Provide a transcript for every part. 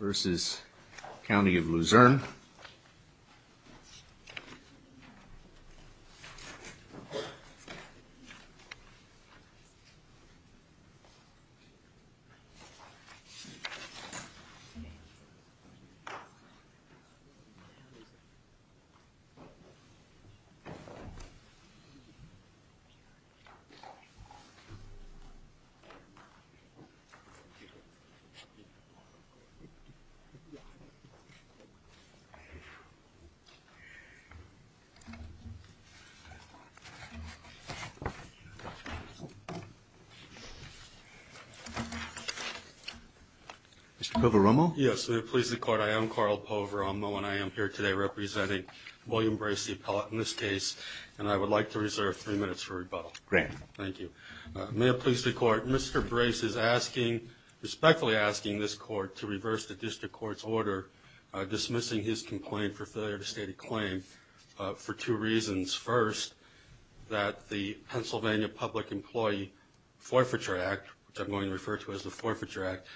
versus County of Luzerne Mr. Poveromo? Yes. May it please the Court, I am Carl Poveromo, and I am here today representing William Brace, the appellate in this case, and I would like to reserve three minutes for rebuttal. Thank you. May it please the Court, Mr. Brace is asking, respectfully asking this Court to reverse the District Court's order dismissing his complaint for failure to state a claim for two reasons. First, that the Pennsylvania Public Employee Forfeiture Act, which I'm going to refer to as the Forfeiture Act,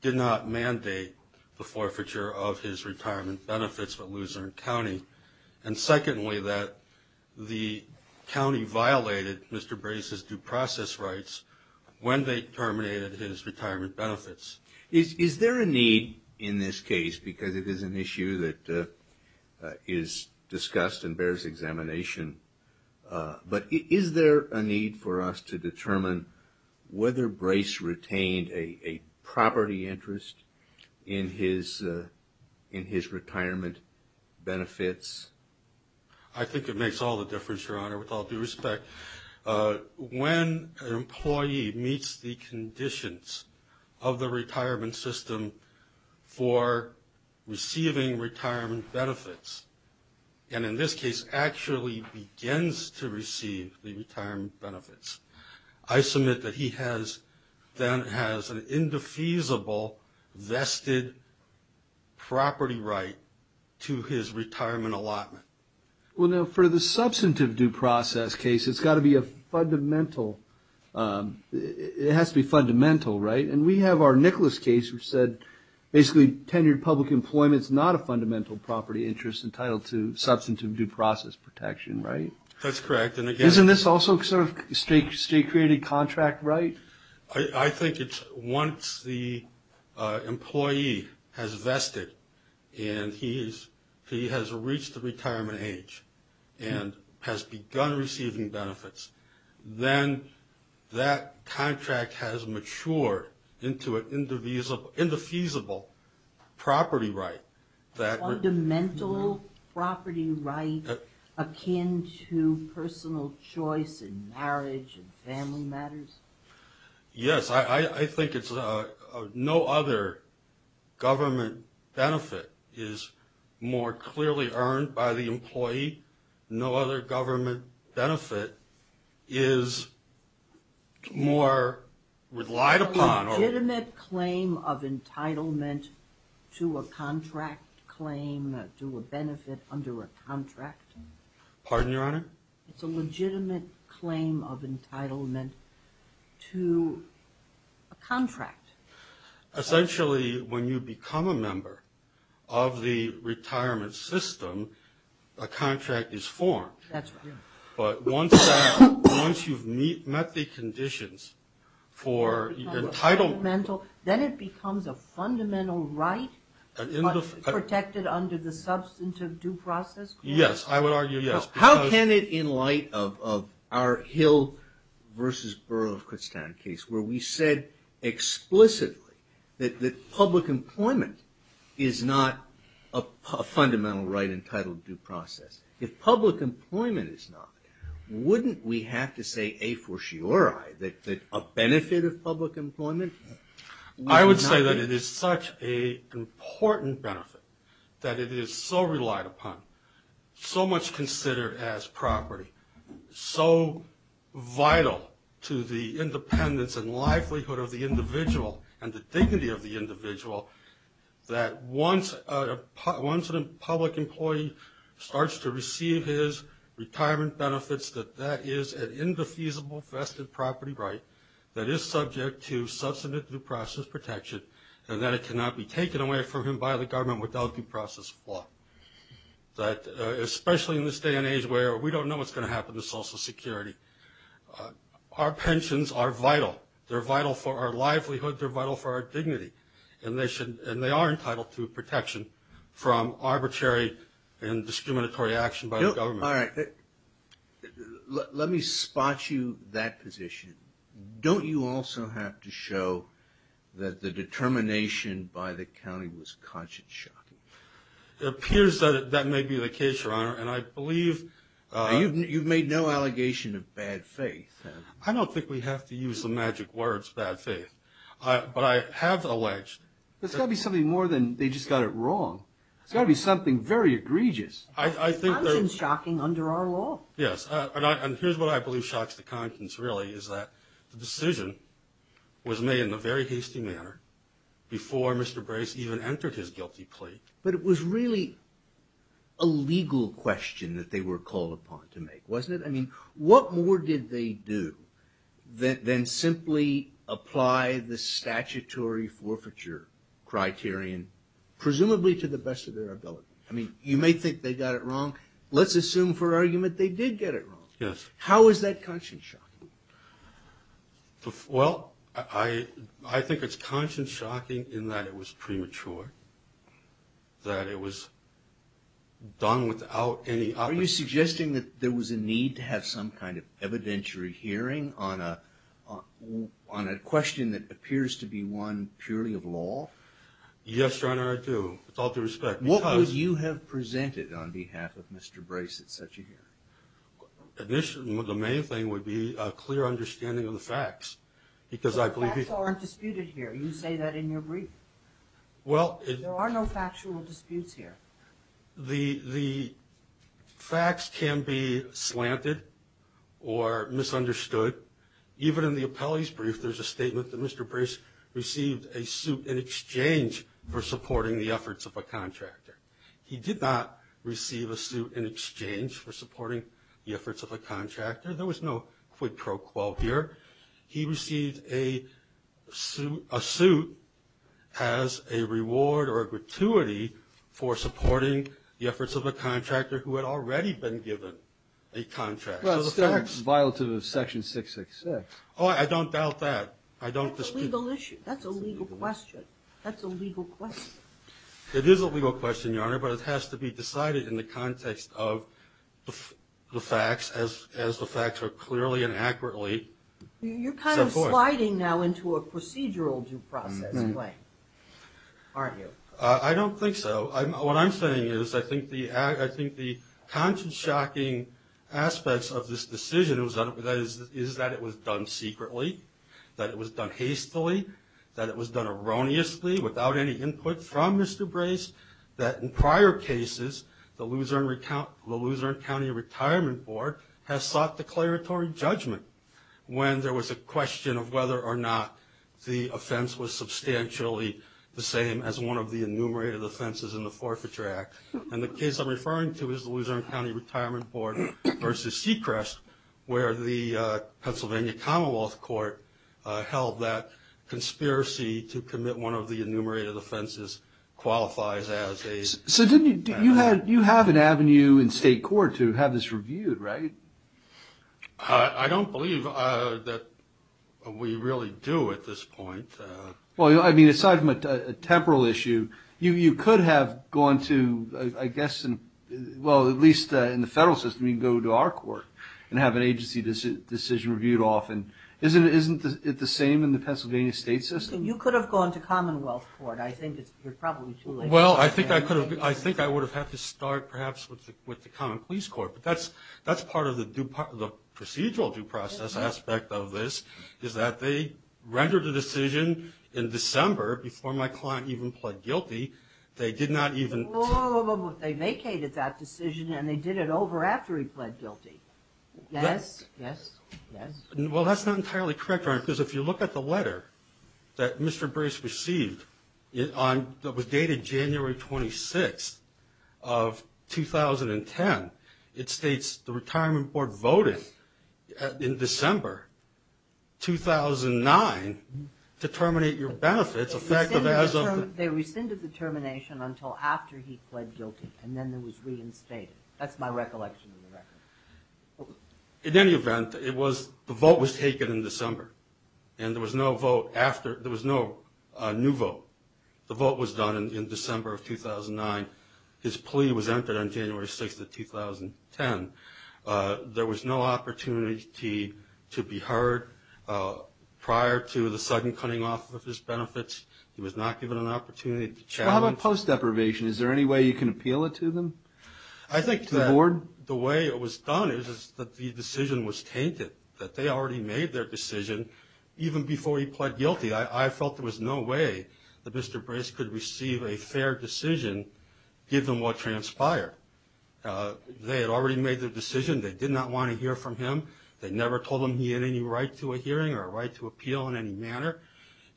did not mandate the forfeiture of his retirement benefits for Luzerne County. And secondly, that the county violated Mr. Brace's due process rights when they terminated his retirement benefits. Is there a need in this case, because it is an issue that is discussed and bears examination, but is there a need for us to determine whether Brace retained a property interest in his retirement benefits? I think it makes all the difference, Your Honor, with all due respect. When an employee meets the conditions of the retirement system for receiving retirement benefits, and in this case, actually begins to receive the retirement benefits, I submit that he has an indefeasible vested property right to his retirement benefits. Well, now, for the substantive due process case, it's got to be a fundamental, it has to be fundamental, right? And we have our Nicholas case, which said, basically, tenured public employment is not a fundamental property interest entitled to substantive due process protection, right? That's correct. Isn't this also sort of state-created contract, right? I think it's once the employee has vested and he has reached the retirement age and has begun receiving benefits, then that contract has matured into an indefeasible property right. Fundamental property right akin to personal choice in marriage and family matters? Yes, I think it's no other government benefit is more clearly earned by the employee. No other government benefit is more relied upon. A legitimate claim of entitlement to a contract claim, to a benefit under a contract? Pardon, Your Honor? Essentially, when you become a member of the retirement system, a contract is formed. That's right. But once you've met the conditions for entitlement... Fundamental, then it becomes a fundamental right protected under the substantive due process? Yes, I would argue, yes. How can it, in light of our Hill v. Borough of Kutztown case, where we said explicitly that public employment is not a fundamental right entitled to due process? If public employment is not, wouldn't we have to say, a for surei, that a benefit of public employment would not be? I would say that it is such an important benefit that it is so relied upon. So much considered as property. So vital to the independence and livelihood of the individual, and the dignity of the individual, that once a public employee starts to receive his retirement benefits, that that is an indefeasible vested property right that is subject to substantive due process protection, and that it cannot be taken away from him by the government without due process of law. Especially in this day and age where we don't know what's going to happen to Social Security. Our pensions are vital. They're vital for our livelihood. They're vital for our dignity. And they are entitled to protection from arbitrary and discriminatory action by the government. Let me spot you that position. Don't you also have to show that the determination by the county was conscience shocking? It appears that may be the case, Your Honor. You've made no allegation of bad faith. I don't think we have to use the magic words, bad faith. But I have alleged... There's got to be something more than they just got it wrong. There's got to be something very egregious. I think that... If they knew, then simply apply the statutory forfeiture criterion, presumably to the best of their ability. I mean, you may think they got it wrong. Let's assume for argument they did get it wrong. How is that conscience shocking? Well, I think it's conscience shocking in that it was premature. That it was done without any... Are you suggesting that there was a need to have some kind of evidentiary hearing on a question that appears to be one purely of law? Yes, Your Honor, I do, with all due respect. What would you have presented on behalf of Mr. Brace at such a hearing? The main thing would be a clear understanding of the facts. The facts aren't disputed here. You say that in your brief. There are no factual disputes here. The facts can be slanted or misunderstood. Even in the appellee's brief, there's a statement that Mr. Brace received a suit in exchange for supporting the efforts of a contractor. He did not receive a suit in exchange for supporting the efforts of a contractor. There was no quid pro quo here. He received a suit as a reward or a gratuity for supporting the efforts of a contractor who had already been given a contract. Well, it's still violative of Section 666. Oh, I don't doubt that. That's a legal question. It is a legal question, Your Honor, but it has to be decided in the context of the facts as the facts are clearly and accurately set forth. You're kind of sliding now into a procedural due process, aren't you? I don't think so. What I'm saying is I think the conscience-shocking aspects of this decision is that it was done secretly, that it was done hastily, that it was done erroneously without any input from Mr. Brace, that in prior cases the Luzerne County Retirement Board has sought declaratory judgment when there was a question of whether or not the offense was substantially the same as one of the enumerated offenses in the Forfeiture Act. And the case I'm referring to is the Luzerne County Retirement Board v. Sechrest, where the Pennsylvania Commonwealth Court held that conspiracy to commit one of the enumerated offenses qualifies as a... So you have an avenue in state court to have this reviewed, right? I don't believe that we really do at this point. Well, I mean, aside from a temporal issue, you could have gone to, I guess, well, at least in the federal system you can go to our court and have an agency decision reviewed often. Isn't it the same in the Pennsylvania state system? You could have gone to Commonwealth Court. I think you're probably too late. Well, I think I would have had to start, perhaps, with the Commonwealth Police Court, but that's part of the procedural due process aspect of this, is that they rendered a decision in December before my client even pled guilty. They did not even... They vacated that decision, and they did it over after he pled guilty. Well, that's not entirely correct, Your Honor, because if you look at the letter that Mr. Brace received that was dated January 26th of 2010, it states the Retirement Board voted in December 2009 to terminate your benefits effective as of... They rescinded the termination until after he pled guilty, and then it was reinstated. That's my recollection of the record. In any event, the vote was taken in December, and there was no new vote. The vote was done in December of 2009. His plea was entered on January 6th of 2010. There was no opportunity to be heard prior to the sudden cutting off of his benefits. He was not given an opportunity to challenge... Well, how about post-deprivation? Is there any way you can appeal it to them? I think that the way it was done is that the decision was tainted, that they already made their decision even before he pled guilty. I felt there was no way that Mr. Brace could receive a fair decision given what transpired. They had already made their decision. They did not want to hear from him. They never told him he had any right to a hearing or a right to appeal in any manner.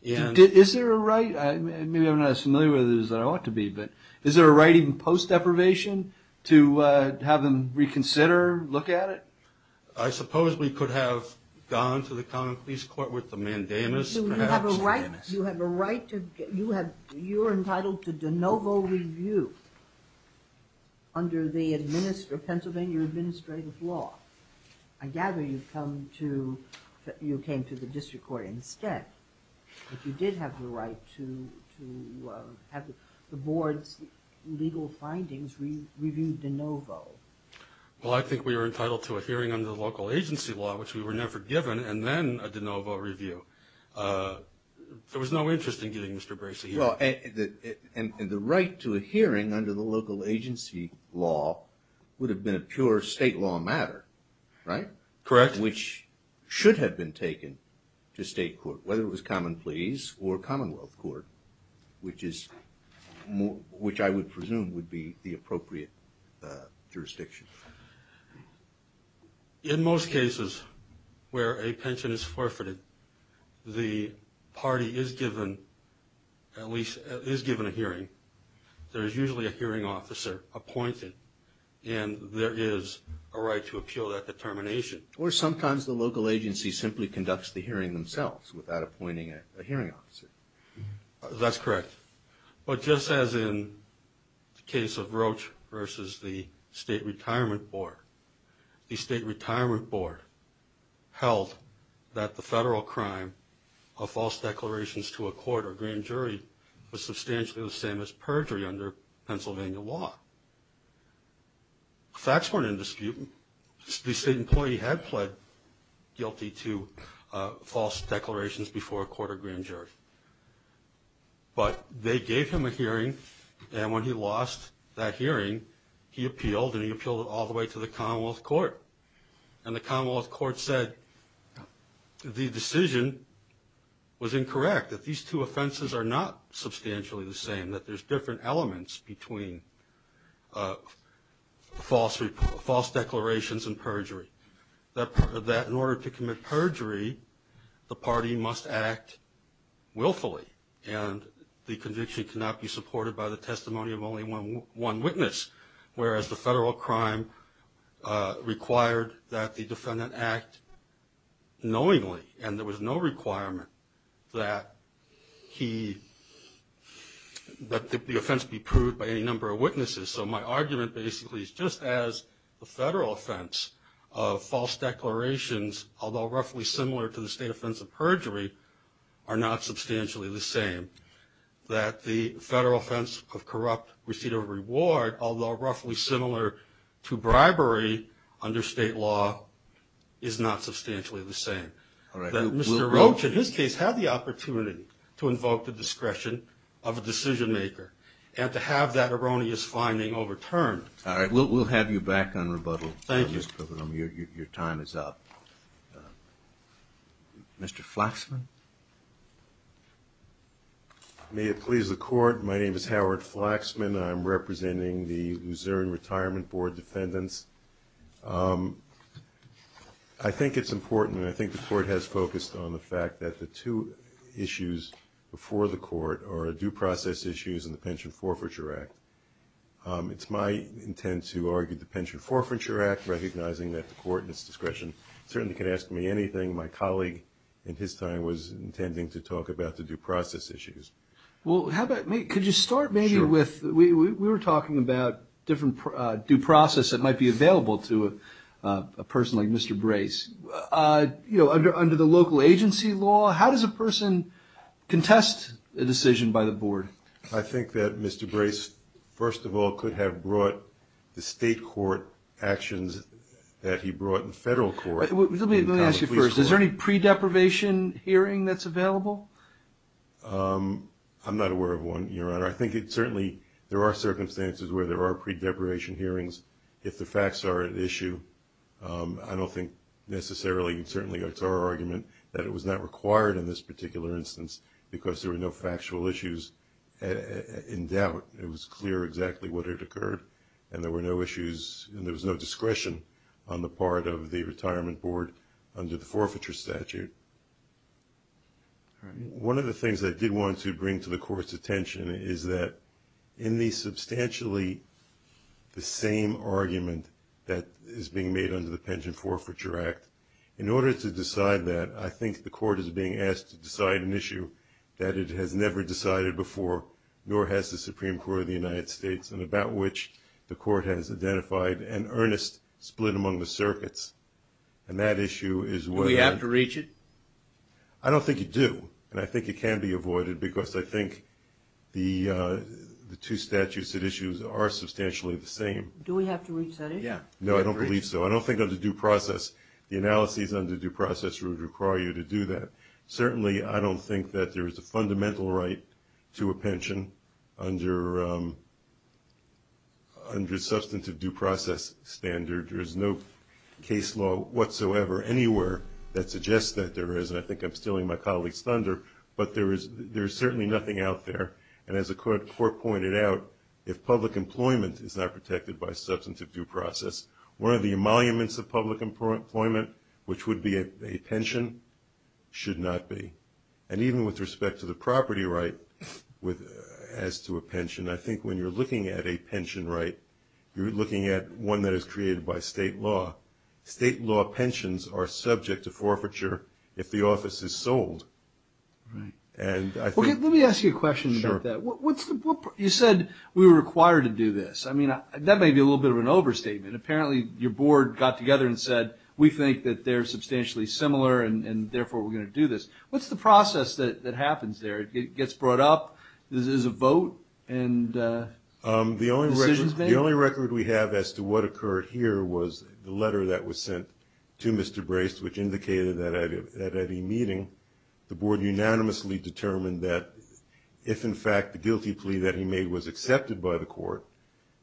Is there a right? Maybe I'm not as familiar with it as I ought to be, but is there a right in post-deprivation to have them reconsider, look at it? I suppose we could have gone to the Common Pleas Court with the mandamus. You have a right to... You're entitled to de novo review under the Pennsylvania Administrative Law. I gather you came to the District Court instead, but you did have the right to have the Board's legal findings reviewed de novo. Well, I think we were entitled to a hearing under the local agency law, which we were never given, and then a de novo review. There was no interest in getting Mr. Brace a hearing. And the right to a hearing under the local agency law would have been a pure state law matter, right? Correct. Which should have been taken to state court, whether it was Common Pleas or Commonwealth Court, which I would presume would be the appropriate jurisdiction. In most cases where a pension is forfeited, the party is given, at least is given a hearing. There is usually a hearing officer appointed, and there is a right to appeal that determination. Or sometimes the local agency simply conducts the hearing themselves without appointing a hearing officer. That's correct. But just as in the case of Roach versus the State Retirement Board, the State Retirement Board held that the federal crime of false declarations to a court or grand jury was substantially the same as perjury under Pennsylvania law. The facts weren't in dispute. The state employee had pled guilty to false declarations before a court or grand jury. But they gave him a hearing, and when he lost that hearing, he appealed, and he appealed all the way to the Commonwealth Court. And the Commonwealth Court said the decision was incorrect, that these two offenses are not substantially the same, that there's different elements between false declarations and perjury. That in order to commit perjury, the party must act willfully, and the conviction cannot be supported by the testimony of only one witness, whereas the federal crime required that the defendant act knowingly, and there was no requirement that the offense be proved by any number of witnesses. So my argument basically is just as the federal offense of false declarations, although roughly similar to the state offense of perjury, are not substantially the same, that the federal offense of corrupt receipt of reward, although roughly similar to bribery under state law, is not substantially the same. Mr. Roach, in his case, had the opportunity to invoke the discretion of a decision maker, and to have that erroneous finding overturned. All right, we'll have you back on rebuttal, Mr. Pilgrim, your time is up. Mr. Flaxman? May it please the Court, my name is Howard Flaxman, I'm representing the Luzerne Retirement Board Defendants. I think it's important, and I think the Court has focused on the fact that the two issues before the Court are due process issues and the Pension Forfeiture Act. It's my intent to argue the Pension Forfeiture Act, recognizing that the Court in its discretion certainly can ask me anything. My colleague in his time was intending to talk about the due process issues. Well, could you start maybe with, we were talking about different due process that might be available to a person like Mr. Brace. Under the local agency law, how does a person contest a decision by the Board? I think that Mr. Brace, first of all, could have brought the state court actions that he brought in federal court. Let me ask you first, is there any pre-deprivation hearing that's available? I'm not aware of one, Your Honor. I think it certainly, there are circumstances where there are pre-deprivation hearings if the facts are at issue. I don't think necessarily, certainly it's our argument that it was not required in this particular instance because there were no factual issues in doubt. It was clear exactly what had occurred and there were no issues and there was no discretion on the part of the Retirement Board under the forfeiture statute. One of the things I did want to bring to the Court's attention is that in the substantially the same argument that is being made under the Pension Forfeiture Act, in order to decide that, I think the Court is being asked to decide an issue that it has never decided before nor has the Supreme Court of the United States and about which the Court has identified an earnest split among the circuits and that issue is whether... Do we have to reach it? I don't think you do and I think it can be avoided because I think the two statutes at issue are substantially the same. Do we have to reach that issue? No, I don't believe so. I don't think under due process, the analysis under due process would require you to do that. Certainly, I don't think that there is a fundamental right to a pension under substantive due process standard. There is no case law whatsoever anywhere that suggests that there is and I think I'm stealing my colleague's thunder, but there is certainly nothing out there and as the Court pointed out, if public employment is not protected by substantive due process, one of the emoluments of public employment, which would be a pension, should not be and even with respect to the property right as to a pension, I think when you're looking at a pension right, you're looking at one that is created by state law. State law pensions are subject to forfeiture if the office is sold. Let me ask you a question about that. You said we were required to do this. That may be a little bit of an overstatement. Apparently, your board got together and said, we think that they're substantially similar and therefore we're going to do this. What's the process that happens there? It gets brought up, there's a vote? The only record we have as to what occurred here was the letter that was sent to Mr. Brace, which indicated that at any meeting, the board unanimously determined that if in fact the guilty plea that he made was accepted by the Court,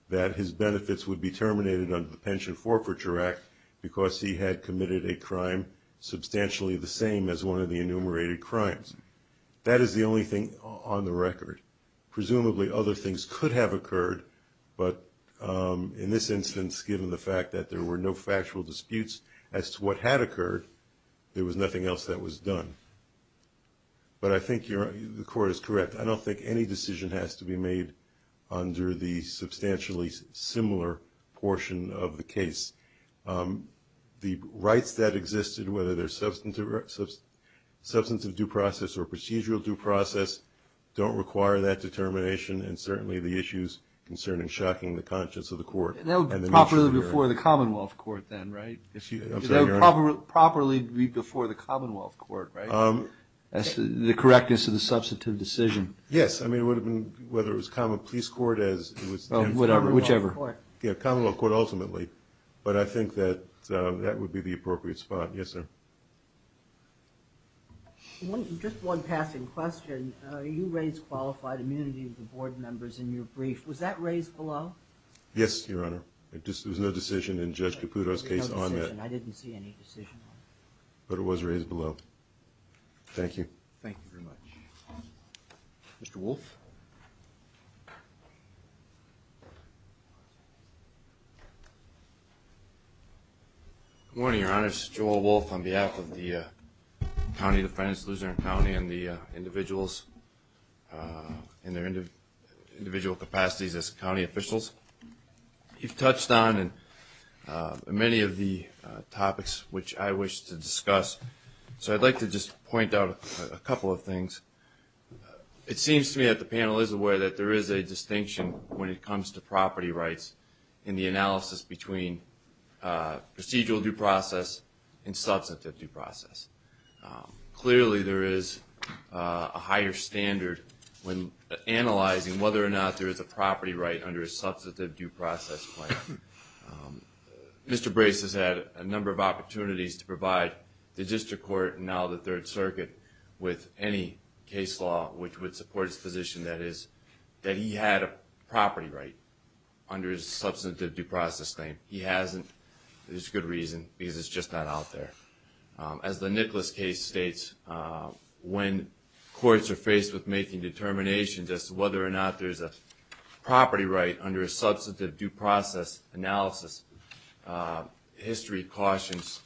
that his benefits would be terminated under the Pension Forfeiture Act because he had committed a crime substantially the same as one of the enumerated crimes. That is the only thing on the record. Presumably other things could have occurred, but in this instance, given the fact that there were no factual disputes as to what had occurred, there was nothing else that was done. But I think the Court is correct. I don't think any decision has to be made under the substantially similar portion of the case. The rights that existed, whether they're substantive due process or procedural due process, don't require that determination and certainly the issues concerning shocking the conscience of the Court. That would properly be before the Commonwealth Court, right? That's the correctness of the substantive decision. Yes. I mean, it would have been, whether it was Commonwealth Police Court as it was... Commonwealth Court ultimately, but I think that that would be the appropriate spot. Yes, sir. Just one passing question. You raised qualified immunity of the board members in your brief. Was that raised below? Yes, Your Honor. There was no decision in Judge Caputo's case on that. I didn't see any decision on it. But it was raised below. Thank you. Thank you very much. Mr. Wolfe. Good morning, Your Honor. This is Joel Wolfe on behalf of the County of the Friends, Luzerne County and the individuals in their individual capacities as county officials. You've touched on many of the topics which I wish to discuss. So I'd like to just point out a couple of things. It seems to me that the panel is aware that there is a distinction when it comes to property rights in the analysis between procedural due process and substantive due process. Clearly, there is a higher standard when analyzing whether or not there is a property right under a substantive due process claim. Mr. Brace has had a number of opportunities to provide the District Court and now the Third Circuit with any case law which would support his position, that is, that he had a property right under his substantive due process claim. He hasn't. There's good reason, because it's just not out there. As the Nicholas case states, when courts are faced with making determinations as to whether or not there's a property right under a substantive due process analysis, history counsels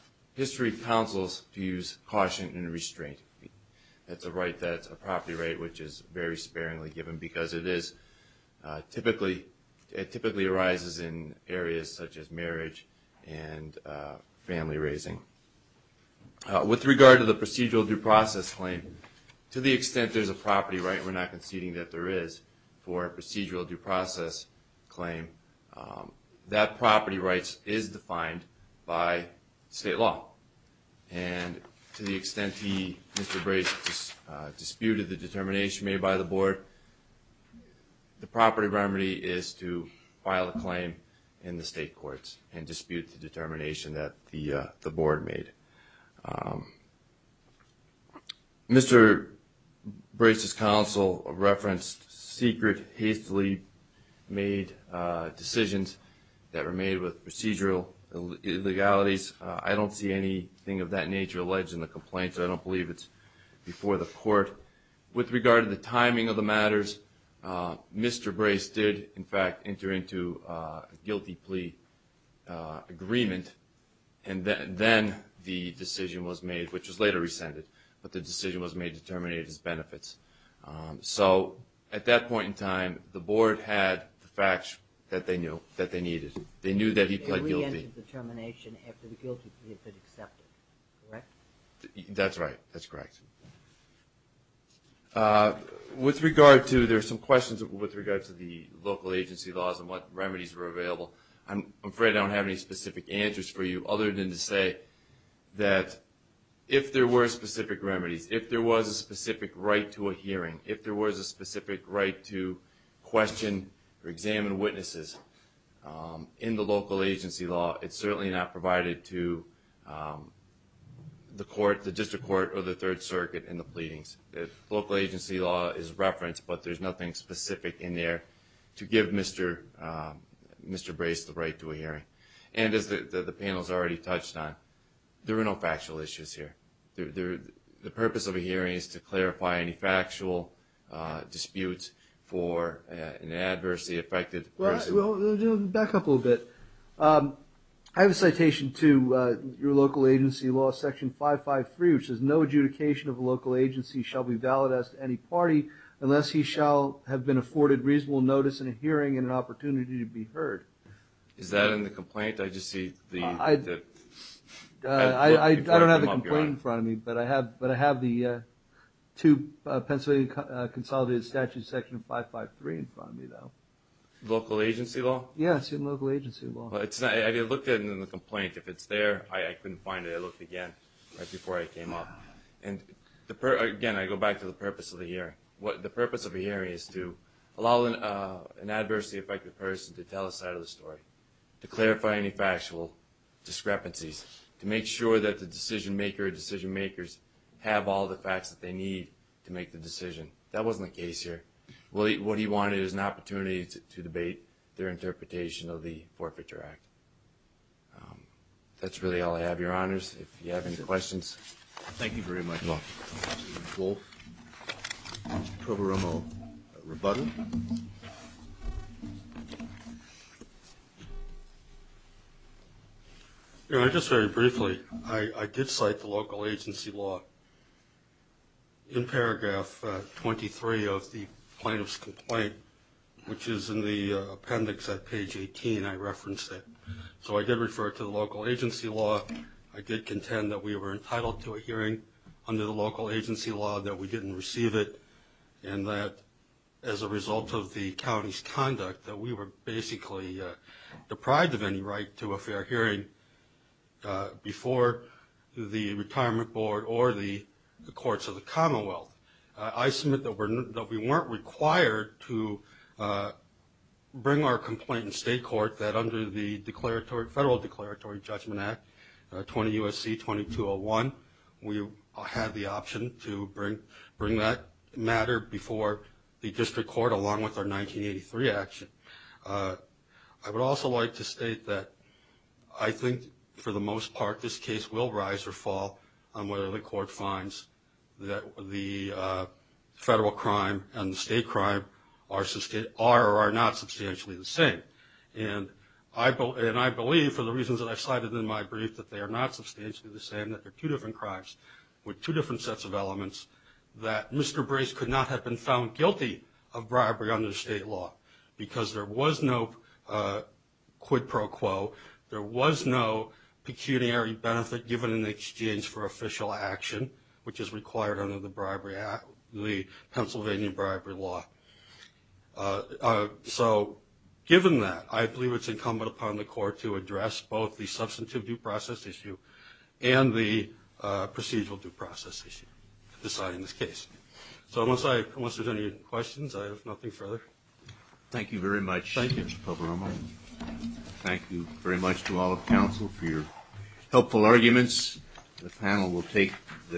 use caution and restraint. That's a property right which is very sparingly given, because it typically arises in areas such as marriage and family raising. With regard to the procedural due process claim, to the extent there's a property right, we're not conceding that there is, for a procedural due process claim, that property right is defined by state law. And to the extent he, Mr. Brace, disputed the determination made by the Board, the property remedy is to file a claim in the state courts and dispute the determination that the Board made. Mr. Brace's counsel referenced secret, hastily made decisions that were made with procedural illegalities. I don't see anything of that nature alleged in the complaint, so I don't believe it's before the Court. With regard to the timing of the matters, Mr. Brace did, in fact, enter into a guilty plea agreement, and then the decision was made, which was later rescinded, but the decision was made to terminate his benefits. So at that point in time, the Board had the facts that they needed. They knew that he pled guilty. The determination after the guilty plea had been accepted, correct? That's right, that's correct. With regard to the local agency laws and what remedies were available, I'm afraid I don't have any specific answers for you, other than to say that if there were specific remedies, if there was a specific right to a hearing, if there was a specific right to question or examine witnesses in the local agency law, it's certainly not provided to the District Court or the Third Circuit in the pleadings. The local agency law is referenced, but there's nothing specific in there to give Mr. Brace the right to a hearing. And as the panel has already touched on, there are no factual issues here. The purpose of a hearing is to clarify any factual disputes for an adversely affected person. I have a citation to your local agency law, Section 553, which says no adjudication of a local agency shall be valid as to any party unless he shall have been afforded reasonable notice in a hearing and an opportunity to be heard. Is that in the complaint? I don't have the complaint in front of me, but I have the two Pennsylvania Consolidated Statutes, Section 553 in front of me, though. Local agency law? Yes, local agency law. I looked at it in the complaint. If it's there, I couldn't find it. I looked again right before I came up. Again, I go back to the purpose of the hearing. The purpose of a hearing is to allow an adversely affected person to tell a side of the story, to clarify any factual discrepancies, to make sure that the decision maker or decision makers have all the facts that they need to make the decision. That wasn't the case here. What he wanted was an opportunity to debate their interpretation of the Forfeiture Act. That's really all I have, Your Honors. If you have any questions. Thank you very much. Just very briefly, I did cite the local agency law. In paragraph 23 of the plaintiff's complaint, which is in the appendix at page 18, I referenced it. I did refer to the local agency law. I did contend that we were entitled to a hearing under the local agency law, that we didn't receive it, and that as a result of the county's conduct, that we were basically deprived of any right to a fair hearing before the Retirement Board or the courts of the Commonwealth. I submit that we weren't required to bring our complaint in state court, that under the Federal Declaratory Judgment Act, 20 U.S.C. 2201, we had the option to bring that matter before the district court along with our 1983 action. I would also like to state that I think, for the most part, this case will rise or fall on whether the court finds that the federal crime and the state crime are or are not substantially the same. I believe, for the reasons that I cited in my brief, that they are not substantially the same, that they're two different crimes with two different sets of elements, that Mr. Brace could not have been found guilty of bribery under state law, because there was no quid pro quo, there was no pecuniary benefit given in exchange for official action, which is required under the Pennsylvania bribery law. So, given that, I believe it's incumbent upon the court to address both the substantive due process issue and the procedural due process issue deciding this case. So, unless there's any questions, I have nothing further. Thank you very much, Mr. Poveroma. Thank you. Thank you very much to all of counsel for your helpful arguments.